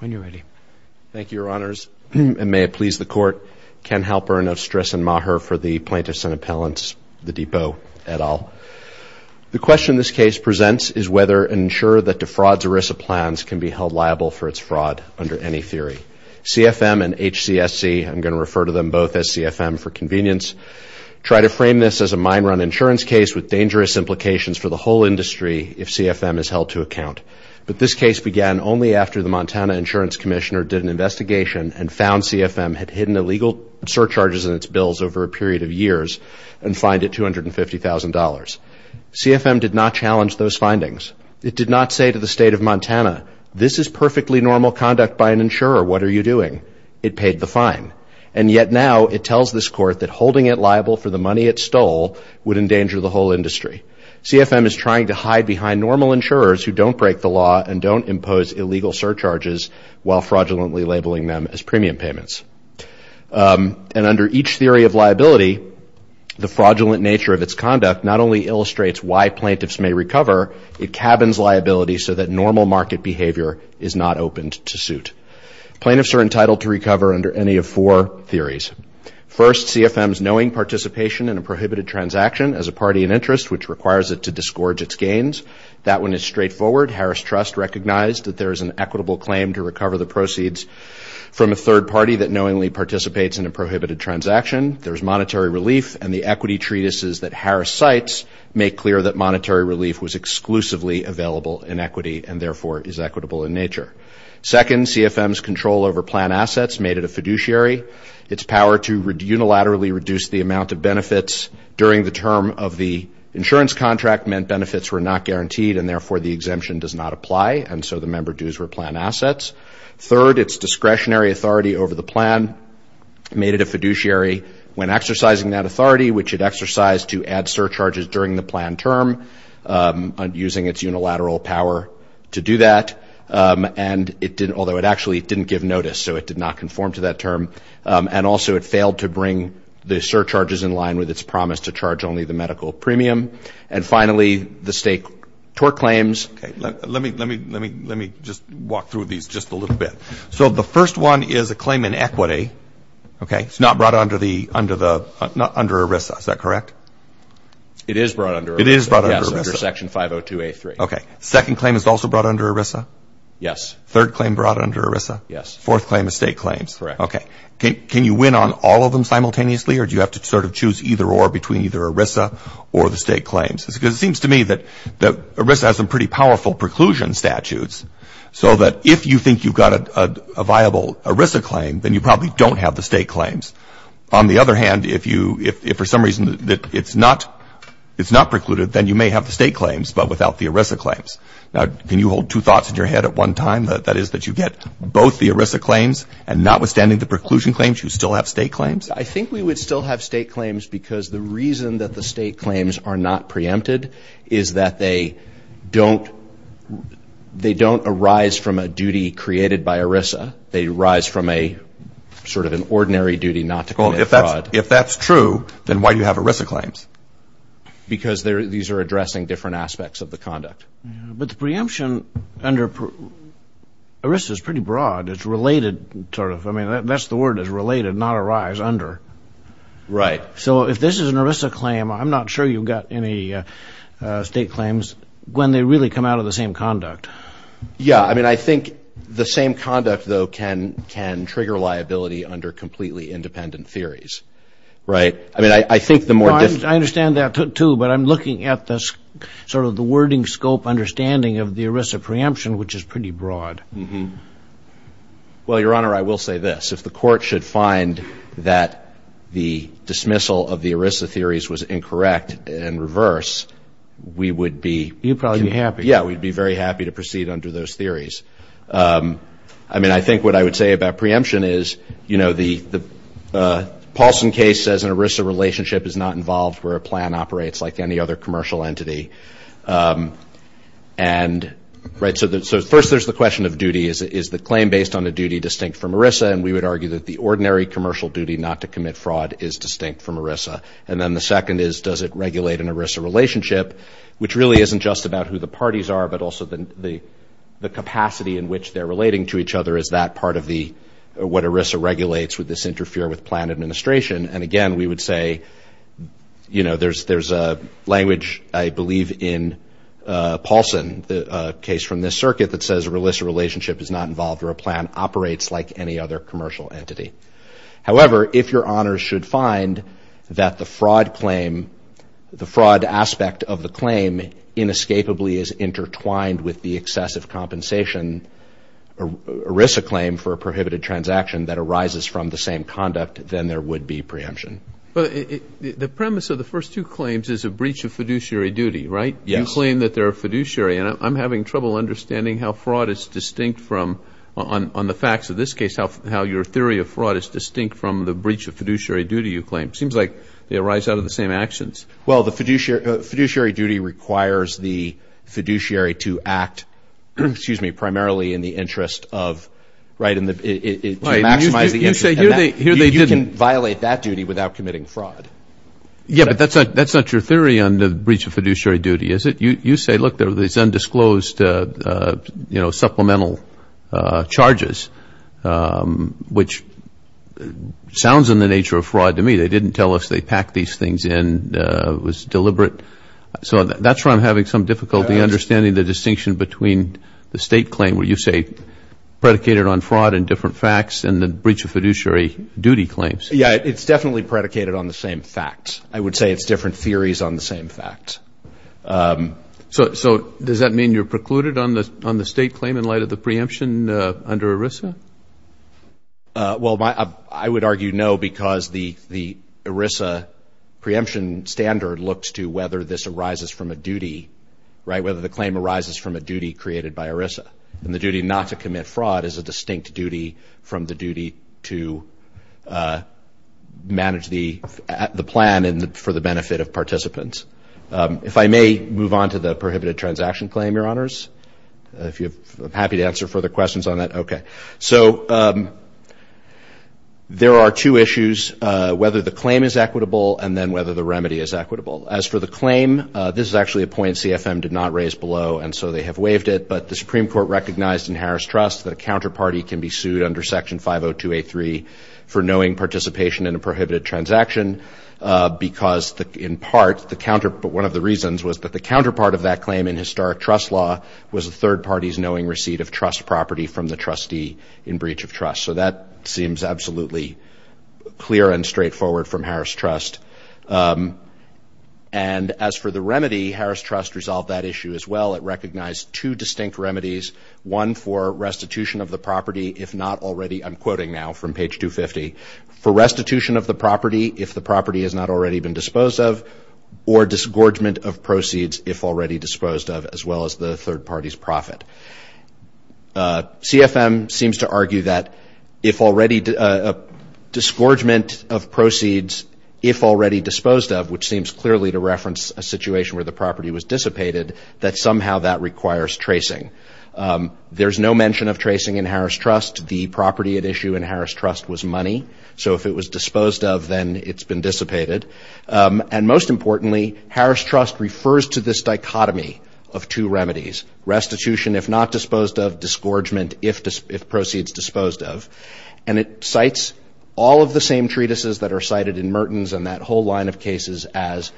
Thank you, Your Honors, and may it please the Court, Ken Halpern of Stress and Maher for the Plaintiffs and Appellants, The Depot, et al. The question this case presents is whether an insurer that defrauds ERISA plans can be held liable for its fraud under any theory. CFM and HCSC, I'm going to refer to them both as CFM for convenience, try to frame this as a mine-run insurance case with dangerous implications for the whole industry if CFM is held to account. But this case began only after the Montana Insurance Commissioner did an investigation and found CFM had hidden illegal surcharges in its bills over a period of years and fined it $250,000. CFM did not challenge those findings. It did not say to the State of Montana, this is perfectly normal conduct by an insurer, what are you doing? It paid the fine. And yet now it tells this Court that holding it liable for the money it stole would endanger the whole industry. CFM is trying to hide behind normal insurers who don't break the law and don't impose illegal surcharges while fraudulently labeling them as premium payments. And under each theory of liability, the fraudulent nature of its conduct not only illustrates why plaintiffs may recover, it cabins liability so that normal market behavior is not opened to suit. Plaintiffs are entitled to recover under any of four theories. First, CFM's knowing participation in a prohibited transaction as a party in interest, which requires it to disgorge its gains. That one is straightforward. Harris Trust recognized that there is an equitable claim to recover the proceeds from a third party that knowingly participates in a prohibited transaction. There is monetary relief, and the equity treatises that Harris cites make clear that monetary relief was exclusively available in equity and therefore is equitable in nature. Second, CFM's control over plan assets made it a fiduciary. Its power to unilaterally reduce the amount of benefits during the term of the insurance contract meant benefits were not guaranteed and, therefore, the exemption does not apply, and so the member dues were plan assets. Third, its discretionary authority over the plan made it a fiduciary. When exercising that authority, which it exercised to add surcharges during the plan term, using its unilateral power to do that, and although it actually didn't give notice, so it did not conform to that term, and also it failed to bring the surcharges in line with its promise to charge only the medical premium. And, finally, the state tort claims. Okay. Let me just walk through these just a little bit. So the first one is a claim in equity, okay? It's not brought under ERISA, is that correct? It is brought under ERISA. It is brought under ERISA. Yes, under Section 502A3. Okay. Second claim is also brought under ERISA? Yes. Third claim brought under ERISA? Yes. Fourth claim is state claims? Correct. Okay. Can you win on all of them simultaneously, or do you have to sort of choose either or between either ERISA or the state claims? Because it seems to me that ERISA has some pretty powerful preclusion statutes, so that if you think you've got a viable ERISA claim, then you probably don't have the state claims. On the other hand, if for some reason it's not precluded, then you may have the state claims but without the ERISA claims. Now, can you hold two thoughts in your head at one time, that is that you get both the ERISA claims and notwithstanding the preclusion claims, you still have state claims? I think we would still have state claims because the reason that the state claims are not preempted is that they don't arise from a duty created by ERISA. They arise from a sort of an ordinary duty not to commit fraud. Well, if that's true, then why do you have ERISA claims? Because these are addressing different aspects of the conduct. But the preemption under ERISA is pretty broad. It's related, sort of. I mean, that's the word, is related, not arise under. Right. So if this is an ERISA claim, I'm not sure you've got any state claims when they really come out of the same conduct. Yeah. I mean, I think the same conduct, though, can trigger liability under completely independent theories. Right. I mean, I think the more different… I understand that, too, but I'm looking at sort of the wording scope understanding of the ERISA preemption, which is pretty broad. Well, Your Honor, I will say this. If the Court should find that the dismissal of the ERISA theories was incorrect and reverse, we would be… You'd probably be happy. Yeah, we'd be very happy to proceed under those theories. I mean, I think what I would say about preemption is, you know, the Paulson case says an ERISA relationship is not involved where a plan operates like any other commercial entity. And, right, so first there's the question of duty. Is the claim based on a duty distinct from ERISA? And we would argue that the ordinary commercial duty not to commit fraud is distinct from ERISA. And then the second is, does it regulate an ERISA relationship, which really isn't just about who the parties are, but also the capacity in which they're relating to each other. Is that part of what ERISA regulates? Would this interfere with plan administration? And, again, we would say, you know, there's a language, I believe, in Paulson, a case from this circuit that says an ERISA relationship is not involved where a plan operates like any other commercial entity. However, if your honors should find that the fraud claim, the fraud aspect of the claim inescapably is intertwined with the excessive compensation ERISA claim for a prohibited transaction that arises from the same conduct, then there would be preemption. But the premise of the first two claims is a breach of fiduciary duty, right? Yes. You claim that they're fiduciary. And I'm having trouble understanding how fraud is distinct from, on the facts of this case, how your theory of fraud is distinct from the breach of fiduciary duty, you claim. It seems like they arise out of the same actions. Well, the fiduciary duty requires the fiduciary to act, excuse me, primarily in the interest of, right, to maximize the interest. You can violate that duty without committing fraud. Yes, but that's not your theory on the breach of fiduciary duty, is it? You say, look, there are these undisclosed, you know, supplemental charges, which sounds in the nature of fraud to me. They didn't tell us they packed these things in. It was deliberate. So that's where I'm having some difficulty understanding the distinction between the state claim, where you say predicated on fraud and different facts, and the breach of fiduciary duty claims. Yeah, it's definitely predicated on the same facts. I would say it's different theories on the same facts. So does that mean you're precluded on the state claim in light of the preemption under ERISA? Well, I would argue no because the ERISA preemption standard looks to whether this arises from a duty, right, whether the claim arises from a duty created by ERISA. And the duty not to commit fraud is a distinct duty from the duty to manage the plan for the benefit of participants. If I may move on to the prohibited transaction claim, Your Honors, if you're happy to answer further questions on that. Okay. So there are two issues, whether the claim is equitable and then whether the remedy is equitable. As for the claim, this is actually a point CFM did not raise below, and so they have waived it. But the Supreme Court recognized in Harris Trust that a counterparty can be sued under Section 50283 for knowing participation in a prohibited transaction because, in part, one of the reasons was that the counterpart of that claim in historic trust law was a third party's knowing receipt of trust property from the trustee in breach of trust. So that seems absolutely clear and straightforward from Harris Trust. And as for the remedy, Harris Trust resolved that issue as well. It recognized two distinct remedies, one for restitution of the property if not already, I'm quoting now from page 250, for restitution of the property if the property has not already been disposed of, or disgorgement of proceeds if already disposed of, as well as the third party's profit. CFM seems to argue that if already disgorgement of proceeds, if already disposed of, which seems clearly to reference a situation where the property was dissipated, that somehow that requires tracing. There's no mention of tracing in Harris Trust. The property at issue in Harris Trust was money. So if it was disposed of, then it's been dissipated. And most importantly, Harris Trust refers to this dichotomy of two remedies, restitution if not disposed of, disgorgement if proceeds disposed of. And it cites all of the same treatises that are cited in Mertens and that whole line of cases as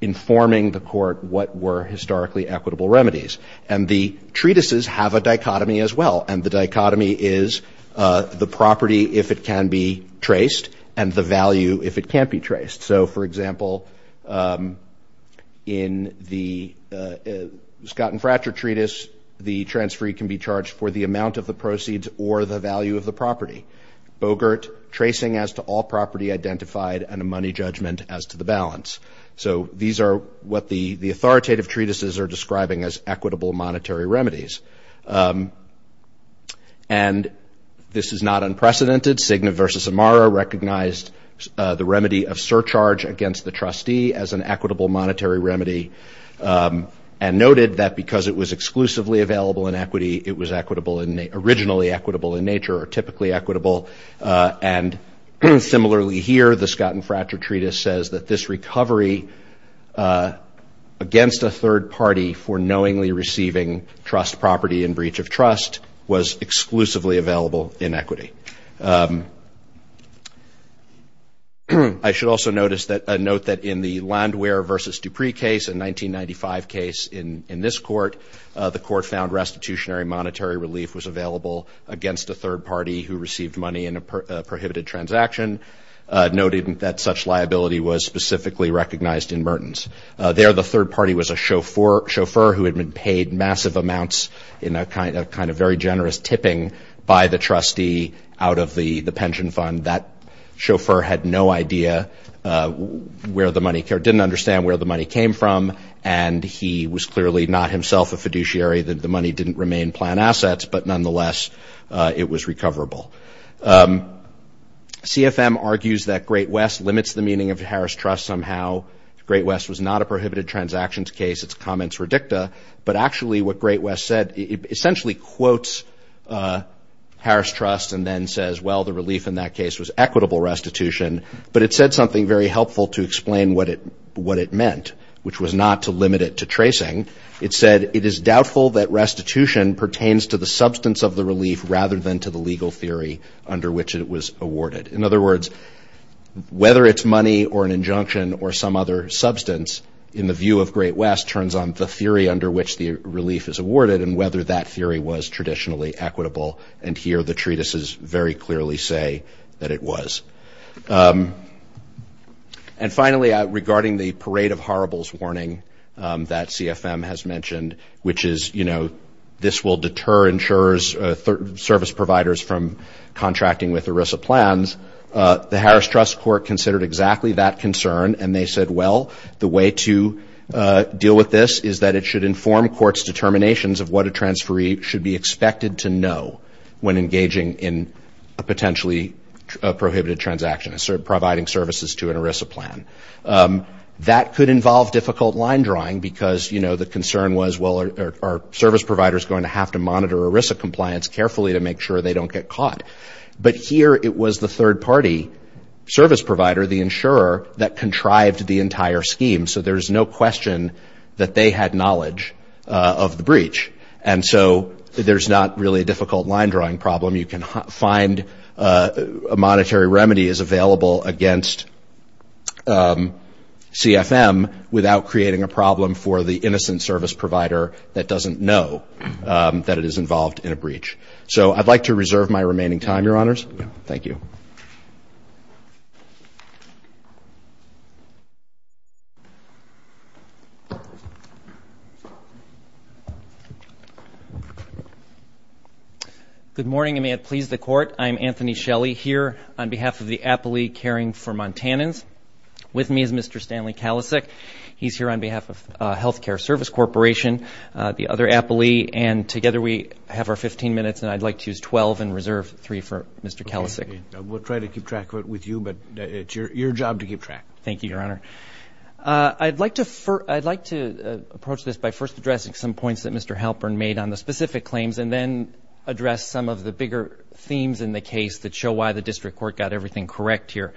informing the court what were historically equitable remedies. And the treatises have a dichotomy as well. And the dichotomy is the property if it can be traced and the value if it can't be traced. So, for example, in the Scott and Fratcher treatise, the transferee can be charged for the amount of the proceeds or the value of the property. Bogert, tracing as to all property identified and a money judgment as to the balance. So these are what the authoritative treatises are describing as equitable monetary remedies. And this is not unprecedented. Cigna v. Amaro recognized the remedy of surcharge against the trustee as an equitable monetary remedy and noted that because it was exclusively available in equity, it was originally equitable in nature or typically equitable. And similarly here, the Scott and Fratcher treatise says that this recovery against a third party for knowingly receiving trust property and breach of trust was exclusively available in equity. I should also note that in the Landwehr v. Dupree case, a 1995 case in this court, the court found restitutionary monetary relief was available against a third party who received money in a prohibited transaction, noted that such liability was specifically recognized in Mertens. There, the third party was a chauffeur who had been paid massive amounts in a kind of very generous tipping by the trustee out of the pension fund. That chauffeur had no idea where the money came, didn't understand where the money came from, and he was clearly not himself a fiduciary. The money didn't remain planned assets, but nonetheless, it was recoverable. CFM argues that Great West limits the meaning of Harris Trust somehow. Great West was not a prohibited transactions case. Its comments were dicta. But actually, what Great West said essentially quotes Harris Trust and then says, well, the relief in that case was equitable restitution, but it said something very helpful to explain what it meant, which was not to limit it to tracing. It said, it is doubtful that restitution pertains to the substance of the relief rather than to the legal theory under which it was awarded. In other words, whether it's money or an injunction or some other substance, in the view of Great West, turns on the theory under which the relief is awarded and whether that theory was traditionally equitable. And here the treatises very clearly say that it was. And finally, regarding the parade of horribles warning that CFM has mentioned, which is, you know, this will deter insurers, service providers from contracting with ERISA plans, the Harris Trust court considered exactly that concern and they said, well, the way to deal with this is that it should inform courts' determinations of what a transferee should be expected to know when engaging in a potentially prohibited transaction, providing services to an ERISA plan. That could involve difficult line drawing because, you know, the concern was, well, are service providers going to have to monitor ERISA compliance carefully to make sure they don't get caught? But here it was the third party service provider, the insurer, that contrived the entire scheme. So there's no question that they had knowledge of the breach. And so there's not really a difficult line drawing problem. You can find monetary remedies available against CFM without creating a problem for the innocent service provider that doesn't know that it is involved in a breach. So I'd like to reserve my remaining time, Your Honors. Thank you. Good morning, and may it please the Court. I'm Anthony Shelley here on behalf of the Appley Caring for Montanans. With me is Mr. Stanley Kalisic. He's here on behalf of Healthcare Service Corporation, the other Appley, and together we have our 15 minutes, and I'd like to use 12 and reserve three for Mr. Kalisic. We'll try to keep track of it with you, but it's your job to keep track. Thank you, Your Honor. I'd like to approach this by first addressing some points that Mr. Halpern made on the specific claims and then address some of the bigger themes in the case that show why the district court got everything correct here.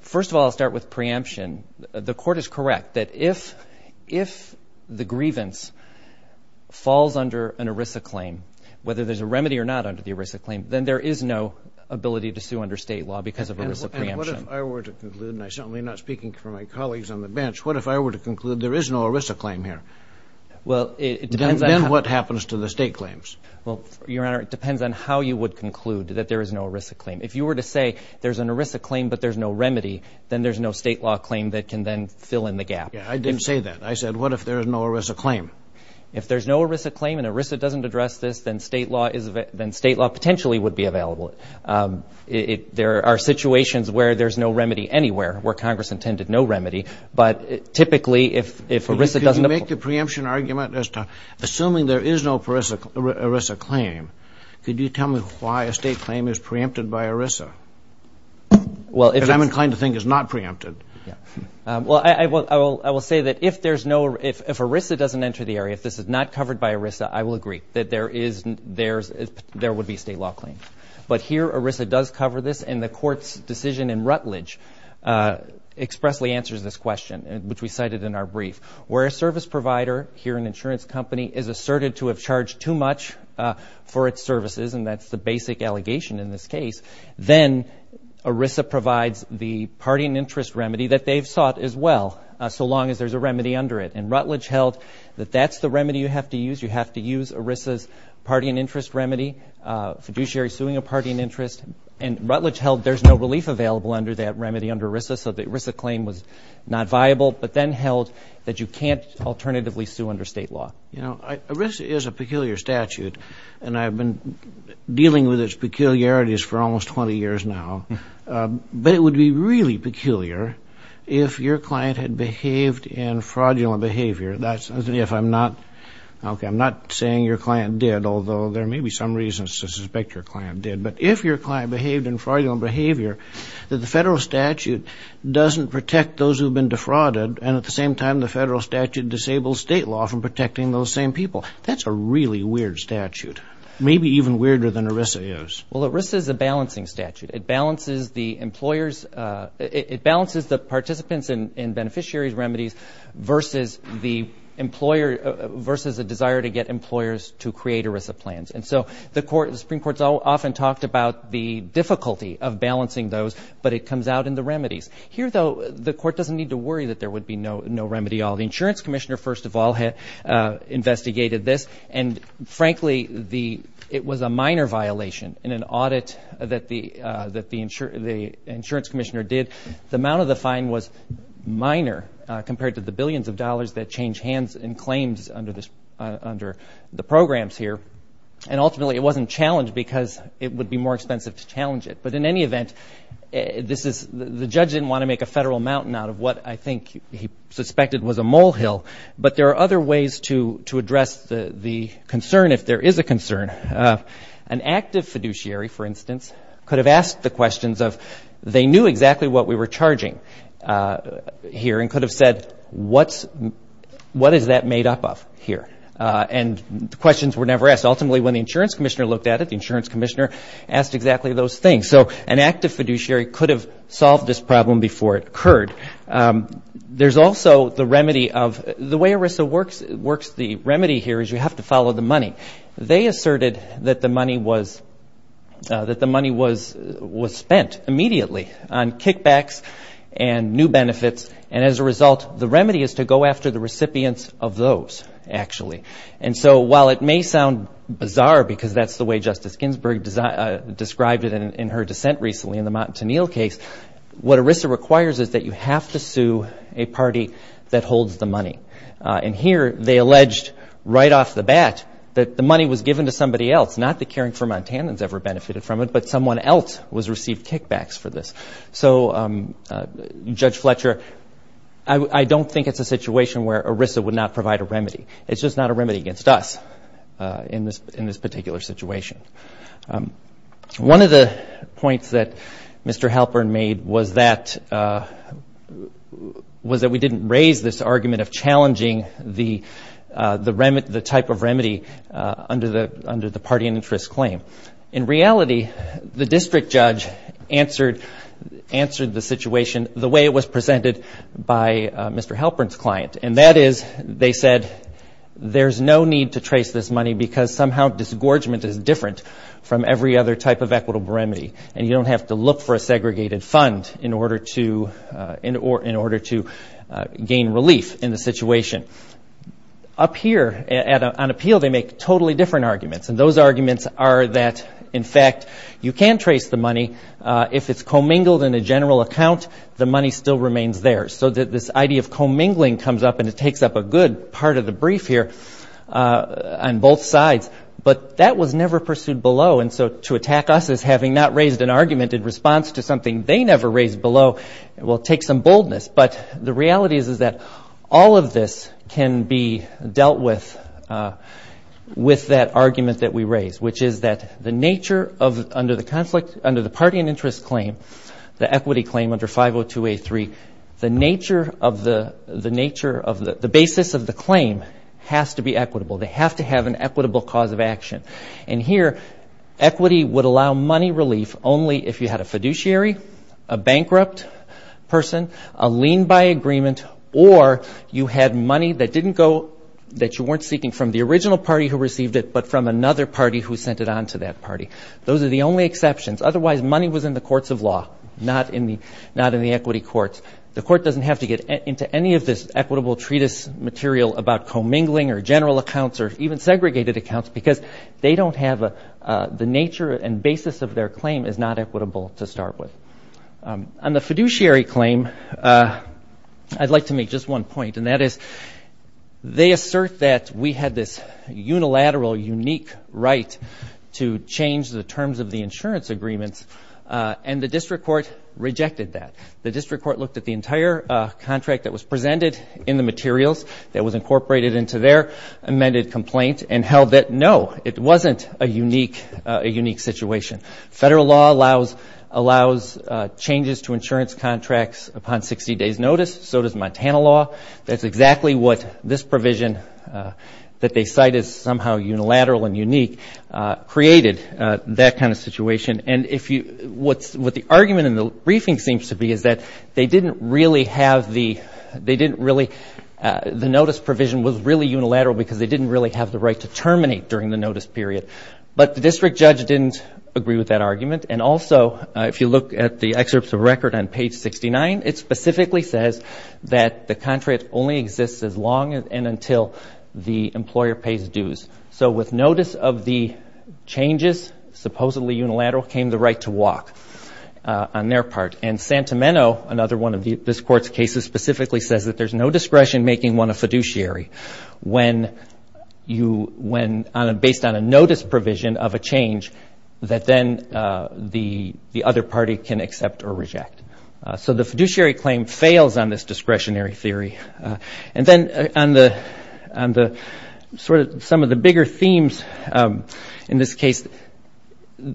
First of all, I'll start with preemption. The Court is correct that if the grievance falls under an ERISA claim, whether there's a remedy or not under the ERISA claim, then there is no ability to sue under state law because of ERISA preemption. And what if I were to conclude, and I certainly am not speaking for my colleagues on the bench, what if I were to conclude there is no ERISA claim here? Well, it depends on how. Then what happens to the state claims? Well, Your Honor, it depends on how you would conclude that there is no ERISA claim. If you were to say there's an ERISA claim but there's no remedy, then there's no state law claim that can then fill in the gap. Yeah, I didn't say that. I said what if there is no ERISA claim? If there's no ERISA claim and ERISA doesn't address this, then state law potentially would be available. There are situations where there's no remedy anywhere, where Congress intended no remedy, but typically if ERISA doesn't apply. Could you make the preemption argument as to assuming there is no ERISA claim, could you tell me why a state claim is preempted by ERISA? Because I'm inclined to think it's not preempted. Well, I will say that if ERISA doesn't enter the area, if this is not covered by ERISA, I will agree that there would be a state law claim. But here ERISA does cover this, and the Court's decision in Rutledge expressly answers this question, which we cited in our brief. Where a service provider, here an insurance company, is asserted to have charged too much for its services, and that's the basic allegation in this case, then ERISA provides the party and interest remedy that they've sought as well, so long as there's a remedy under it. And Rutledge held that that's the remedy you have to use. You have to use ERISA's party and interest remedy, fiduciary suing a party and interest. And Rutledge held there's no relief available under that remedy, under ERISA, so the ERISA claim was not viable, but then held that you can't alternatively sue under state law. You know, ERISA is a peculiar statute, and I've been dealing with its peculiarities for almost 20 years now. But it would be really peculiar if your client had behaved in fraudulent behavior. That's if I'm not, okay, I'm not saying your client did, although there may be some reasons to suspect your client did. But if your client behaved in fraudulent behavior, that the federal statute doesn't protect those who have been defrauded, and at the same time the federal statute disables state law from protecting those same people. That's a really weird statute, maybe even weirder than ERISA is. Well, ERISA is a balancing statute. It balances the employer's ‑‑ it balances the participants in beneficiaries' remedies versus the desire to get employers to create ERISA plans. And so the Supreme Court has often talked about the difficulty of balancing those, but it comes out in the remedies. Here, though, the Court doesn't need to worry that there would be no remedy at all. The Insurance Commissioner, first of all, had investigated this, and frankly it was a minor violation in an audit that the Insurance Commissioner did. The amount of the fine was minor compared to the billions of dollars that change hands in claims under the programs here. And ultimately it wasn't challenged because it would be more expensive to challenge it. But in any event, this is ‑‑ the judge didn't want to make a federal mountain out of what I think he suspected was a molehill. But there are other ways to address the concern, if there is a concern. An active fiduciary, for instance, could have asked the questions of, they knew exactly what we were charging here and could have said, what is that made up of here? And the questions were never asked. Ultimately, when the Insurance Commissioner looked at it, the Insurance Commissioner asked exactly those things. So an active fiduciary could have solved this problem before it occurred. There's also the remedy of ‑‑ the way ERISA works, the remedy here is you have to follow the money. They asserted that the money was spent immediately on kickbacks and new benefits, and as a result, the remedy is to go after the recipients of those, actually. And so while it may sound bizarre because that's the way Justice Ginsburg described it in her dissent recently in the Montanil case, what ERISA requires is that you have to sue a party that holds the money. And here they alleged right off the bat that the money was given to somebody else, not that Caring for Montanans ever benefited from it, but someone else was received kickbacks for this. So Judge Fletcher, I don't think it's a situation where ERISA would not provide a remedy. It's just not a remedy against us in this particular situation. One of the points that Mr. Halpern made was that we didn't raise this argument of challenging the type of remedy under the party and interest claim. In reality, the district judge answered the situation the way it was presented by Mr. Halpern's client, and that is they said there's no need to trace this money because somehow disgorgement is different from every other type of equitable remedy, and you don't have to look for a segregated fund in order to gain relief in the situation. Up here on appeal, they make totally different arguments, and those arguments are that, in fact, you can trace the money. If it's commingled in a general account, the money still remains there. So this idea of commingling comes up, and it takes up a good part of the brief here on both sides. But that was never pursued below, and so to attack us as having not raised an argument in response to something they never raised below will take some boldness. But the reality is that all of this can be dealt with with that argument that we raised, which is that the nature under the party and interest claim, the equity claim under 502A3, the basis of the claim has to be equitable. They have to have an equitable cause of action. And here, equity would allow money relief only if you had a fiduciary, a bankrupt person, a lien by agreement, or you had money that you weren't seeking from the original party who received it but from another party who sent it on to that party. Those are the only exceptions. Otherwise, money was in the courts of law, not in the equity courts. The court doesn't have to get into any of this equitable treatise material about commingling or general accounts or even segregated accounts because they don't have the nature and basis of their claim is not equitable to start with. On the fiduciary claim, I'd like to make just one point, and that is they assert that we had this unilateral, unique right to change the terms of the insurance agreements, and the district court rejected that. The district court looked at the entire contract that was presented in the materials that was incorporated into their amended complaint and held that, no, it wasn't a unique situation. Federal law allows changes to insurance contracts upon 60 days' notice. So does Montana law. That's exactly what this provision that they cite as somehow unilateral and unique created, that kind of situation. What the argument in the briefing seems to be is that they didn't really have the notice provision was really unilateral because they didn't really have the right to terminate during the notice period. But the district judge didn't agree with that argument. And also, if you look at the excerpts of record on page 69, it specifically says that the contract only exists as long and until the employer pays dues. So with notice of the changes, supposedly unilateral, came the right to walk on their part. And Santameno, another one of this court's cases, specifically says that there's no discretion making one a fiduciary based on a notice provision of a change that then the other party can accept or reject. So the fiduciary claim fails on this discretionary theory. And then on the sort of some of the bigger themes in this case,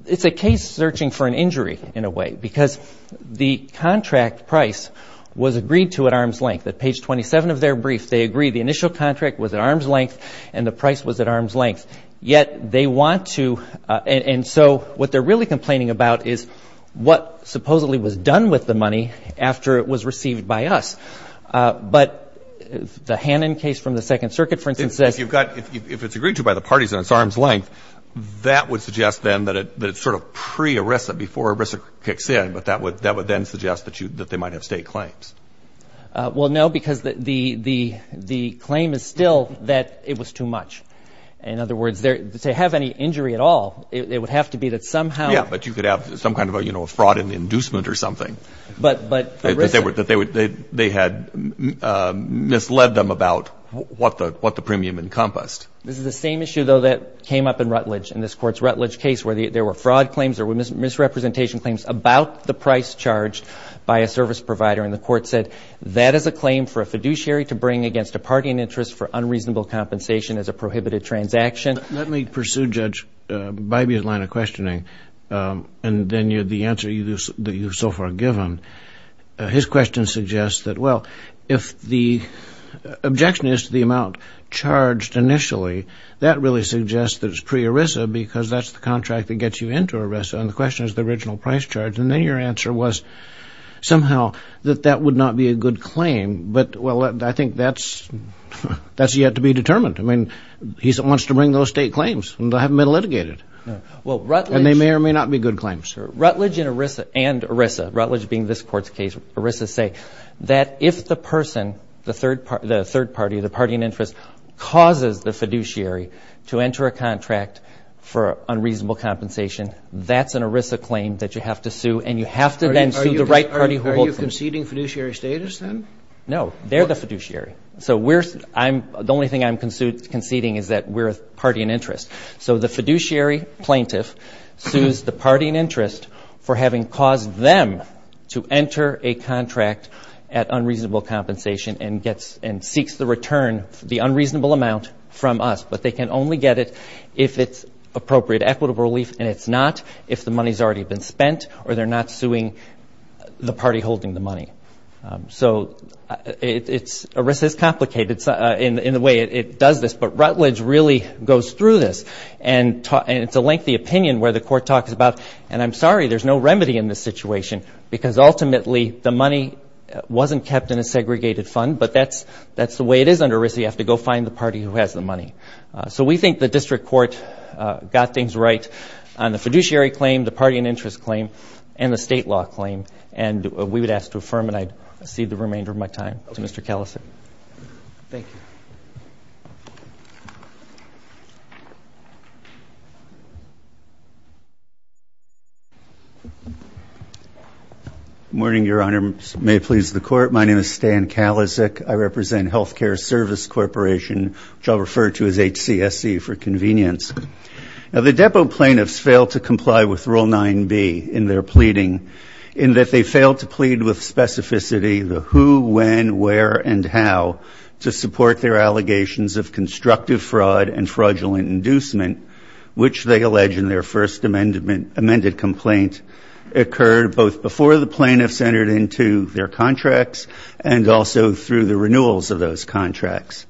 it's a case searching for an injury, in a way, because the contract price was agreed to at arm's length. At page 27 of their brief, they agree the initial contract was at arm's length and the price was at arm's length, yet they want to, and so what they're really complaining about is what supposedly was done with the money after it was received by us. But the Hannon case from the Second Circuit, for instance, says you've got, if it's agreed to by the parties at its arm's length, that would suggest then that it's sort of pre-ERISA before ERISA kicks in, but that would then suggest that they might have state claims. Well, no, because the claim is still that it was too much. In other words, to have any injury at all, it would have to be that somehow. Yeah, but you could have some kind of a fraud and inducement or something. That they had misled them about what the premium encompassed. This is the same issue, though, that came up in Rutledge, in this Court's Rutledge case where there were fraud claims or misrepresentation claims about the price charged by a service provider, and the Court said that is a claim for a fiduciary to bring against a party in interest for unreasonable compensation as a prohibited transaction. Let me pursue, Judge, Bybee's line of questioning, and then the answer that you've so far given. His question suggests that, well, if the objection is to the amount charged initially, that really suggests that it's pre-ERISA because that's the contract that gets you into ERISA, and the question is the original price charge. And then your answer was somehow that that would not be a good claim, but, well, I think that's yet to be determined. I mean, he wants to bring those state claims, and they haven't been litigated. And they may or may not be good claims. Rutledge and ERISA, Rutledge being this Court's case, ERISA say that if the person, the third party, the party in interest, causes the fiduciary to enter a contract for unreasonable compensation, that's an ERISA claim that you have to sue, and you have to then sue the right party. Are you conceding fiduciary status, then? No, they're the fiduciary. So the only thing I'm conceding is that we're a party in interest. So the fiduciary plaintiff sues the party in interest for having caused them to enter a contract at unreasonable compensation and seeks the return, the unreasonable amount, from us. But they can only get it if it's appropriate equitable relief, and it's not if the money's already been spent or they're not suing the party holding the money. So ERISA is complicated in the way it does this, but Rutledge really goes through this. And it's a lengthy opinion where the Court talks about, and I'm sorry there's no remedy in this situation because ultimately the money wasn't kept in a segregated fund, but that's the way it is under ERISA. You have to go find the party who has the money. So we think the District Court got things right on the fiduciary claim, the party in interest claim, and the state law claim, and we would ask to affirm it. I cede the remainder of my time to Mr. Kellison. Thank you. Good morning, Your Honor. May it please the Court, my name is Stan Kalisic. I represent Healthcare Service Corporation, which I'll refer to as HCSC for convenience. Now, the depot plaintiffs failed to comply with Rule 9b in their pleading in that they failed to plead with specificity the who, when, where, and how to support their allegations of constructive fraud and fraudulent inducement, which they allege in their first amended complaint occurred both before the plaintiffs entered into their contracts and also through the renewals of those contracts.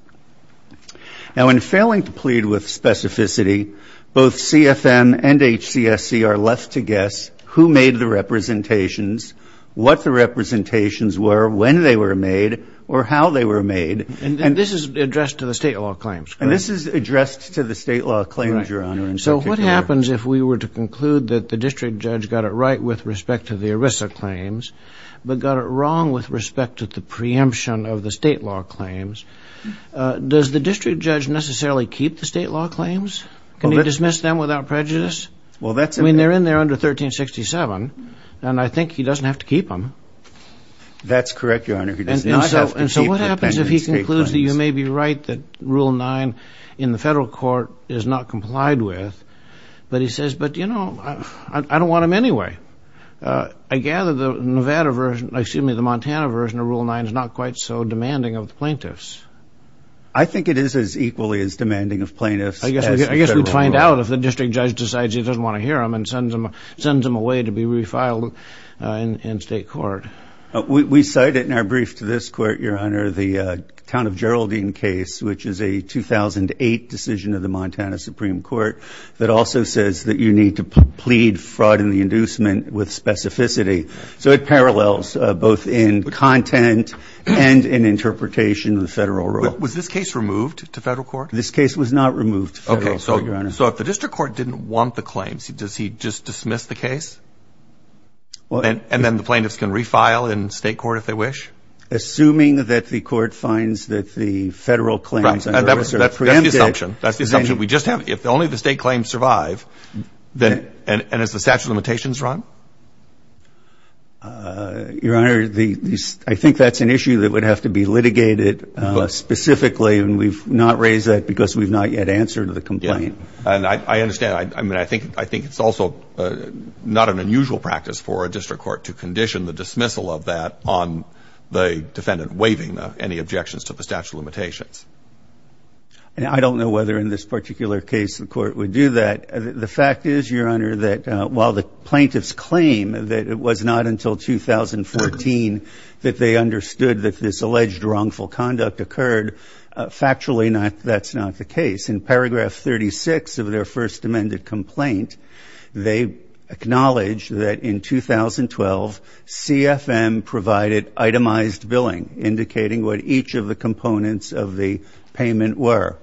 Now, in failing to plead with specificity, both CFM and HCSC are left to guess who made the representations, what the representations were, when they were made, or how they were made. And this is addressed to the state law claims, correct? And this is addressed to the state law claims, Your Honor. So what happens if we were to conclude that the district judge got it right with respect to the ERISA claims but got it wrong with respect to the preemption of the state law claims? Does the district judge necessarily keep the state law claims? Can he dismiss them without prejudice? I mean, they're in there under 1367, and I think he doesn't have to keep them. That's correct, Your Honor. He does not have to keep the pendent state claims. And so what happens if he concludes that you may be right that Rule 9 in the federal court is not complied with, but he says, but, you know, I don't want them anyway. I gather the Nevada version, excuse me, the Montana version of Rule 9 is not quite so demanding of the plaintiffs. Well, I guess we'd find out if the district judge decides he doesn't want to hear them and sends them away to be refiled in state court. We cite it in our brief to this court, Your Honor, the Town of Geraldine case, which is a 2008 decision of the Montana Supreme Court that also says that you need to plead fraud and the inducement with specificity. So it parallels both in content and in interpretation of the federal rule. Was this case removed to federal court? This case was not removed to federal court, Your Honor. So if the district court didn't want the claims, does he just dismiss the case? And then the plaintiffs can refile in state court if they wish? Assuming that the court finds that the federal claims are preempted. That's the assumption. That's the assumption we just have. If only the state claims survive, and as the statute of limitations run? Your Honor, I think that's an issue that would have to be litigated specifically, and we've not raised that because we've not yet answered the complaint. And I understand. I mean, I think it's also not an unusual practice for a district court to condition the dismissal of that on the defendant waiving any objections to the statute of limitations. And I don't know whether in this particular case the court would do that. The fact is, Your Honor, that while the plaintiffs claim that it was not until 2014 that they understood that this alleged wrongful conduct occurred, factually that's not the case. In paragraph 36 of their first amended complaint, they acknowledge that in 2012 CFM provided itemized billing, indicating what each of the components of the payment were.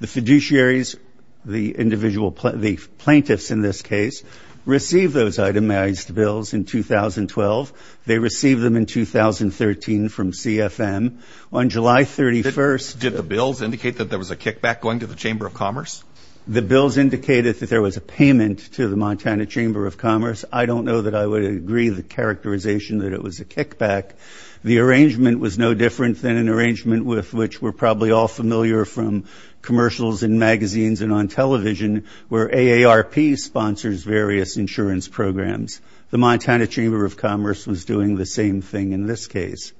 The fiduciaries, the plaintiffs in this case, received those itemized bills in 2012. They received them in 2013 from CFM. On July 31st... Did the bills indicate that there was a kickback going to the Chamber of Commerce? The bills indicated that there was a payment to the Montana Chamber of Commerce. I don't know that I would agree the characterization that it was a kickback. The arrangement was no different than an arrangement with which we're probably all familiar from commercials and magazines and on television, where AARP sponsors various insurance programs. The Montana Chamber of Commerce was doing the same thing in this case.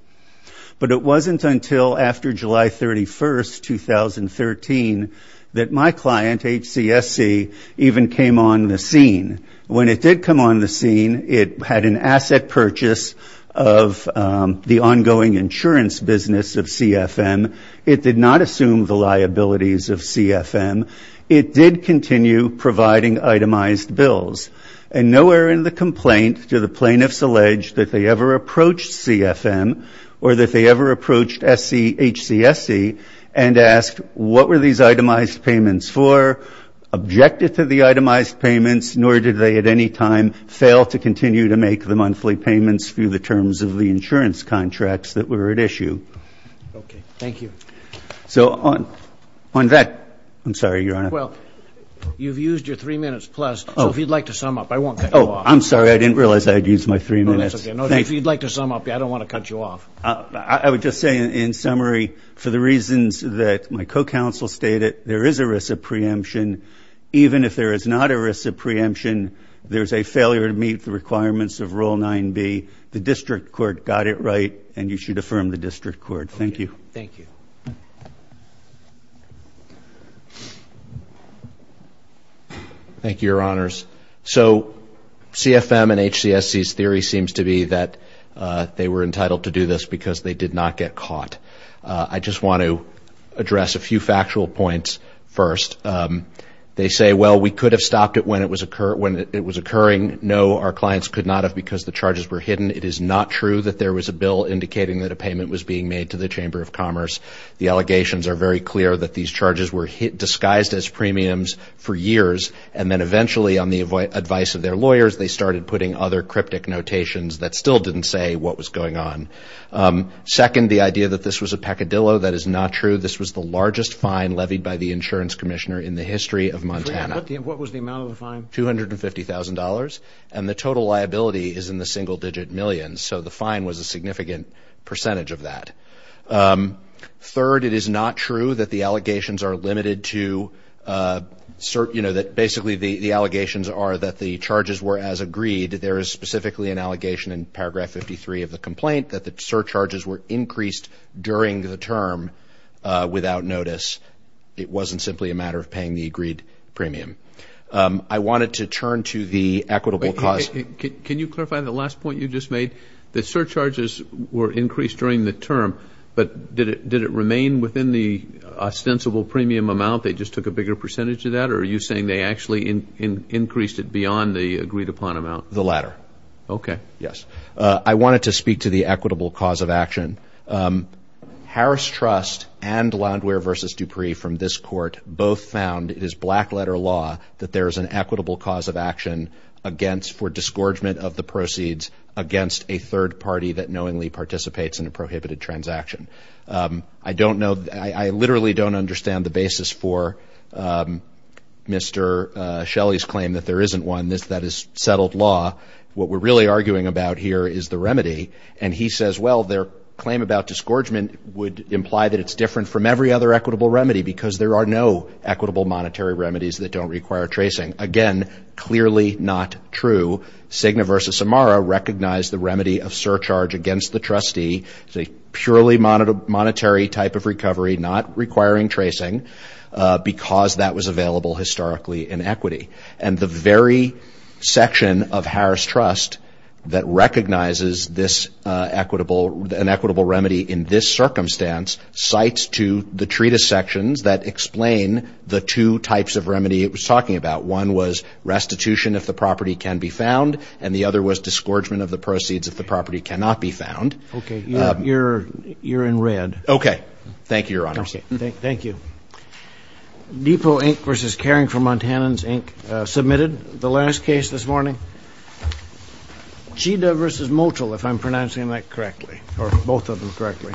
But it wasn't until after July 31st, 2013, that my client, HCSC, even came on the scene. When it did come on the scene, it had an asset purchase of the ongoing insurance business of CFM. It did not assume the liabilities of CFM. It did continue providing itemized bills. And nowhere in the complaint do the plaintiffs allege that they ever approached CFM or that they ever approached HCSC and asked what were these itemized payments for, objected to the itemized payments, nor did they at any time fail to continue to make the monthly payments through the terms of the insurance contracts that were at issue. Okay. Thank you. So on that, I'm sorry, Your Honor. Well, you've used your three minutes plus. So if you'd like to sum up, I won't cut you off. Oh, I'm sorry. I didn't realize I had used my three minutes. No, that's okay. If you'd like to sum up, I don't want to cut you off. I would just say in summary, for the reasons that my co-counsel stated, there is a risk of preemption. Even if there is not a risk of preemption, there's a failure to meet the requirements of Rule 9b. The district court got it right, and you should affirm the district court. Thank you. Thank you. Thank you. Thank you, Your Honors. So CFM and HCSC's theory seems to be that they were entitled to do this because they did not get caught. I just want to address a few factual points first. They say, well, we could have stopped it when it was occurring. No, our clients could not have because the charges were hidden. It is not true that there was a bill indicating that a payment was being made to the Chamber of Commerce. The allegations are very clear that these charges were disguised as premiums for years, and then eventually on the advice of their lawyers, they started putting other cryptic notations that still didn't say what was going on. Second, the idea that this was a peccadillo, that is not true. This was the largest fine levied by the insurance commissioner in the history of Montana. What was the amount of the fine? $250,000. And the total liability is in the single-digit millions. So the fine was a significant percentage of that. Third, it is not true that the allegations are limited to, you know, that basically the allegations are that the charges were as agreed. There is specifically an allegation in paragraph 53 of the complaint that the surcharges were increased during the term without notice. It wasn't simply a matter of paying the agreed premium. I wanted to turn to the equitable cause. Can you clarify the last point you just made? The surcharges were increased during the term, but did it remain within the ostensible premium amount? They just took a bigger percentage of that? Or are you saying they actually increased it beyond the agreed upon amount? The latter. Okay. Yes. I wanted to speak to the equitable cause of action. Harris Trust and Landwehr v. Dupree from this court both found it is black-letter law that there is an equitable cause of action for disgorgement of the proceeds against a third party that knowingly participates in a prohibited transaction. I don't know. I literally don't understand the basis for Mr. Shelley's claim that there isn't one that is settled law. What we're really arguing about here is the remedy. And he says, well, their claim about disgorgement would imply that it's different from every other equitable remedy because there are no equitable monetary remedies that don't require tracing. Again, clearly not true. Cigna v. Samara recognized the remedy of surcharge against the trustee. It's a purely monetary type of recovery not requiring tracing because that was available historically in equity. And the very section of Harris Trust that recognizes this equitable, an equitable remedy in this circumstance, cites to the treatise sections that explain the two types of remedy it was talking about. One was restitution if the property can be found, and the other was disgorgement of the proceeds if the property cannot be found. Okay. You're in red. Okay. Thank you, Your Honors. Thank you. Depot Inc. v. Caring for Montanans Inc. submitted the last case this morning. Chida v. Motel, if I'm pronouncing that correctly, or both of them correctly.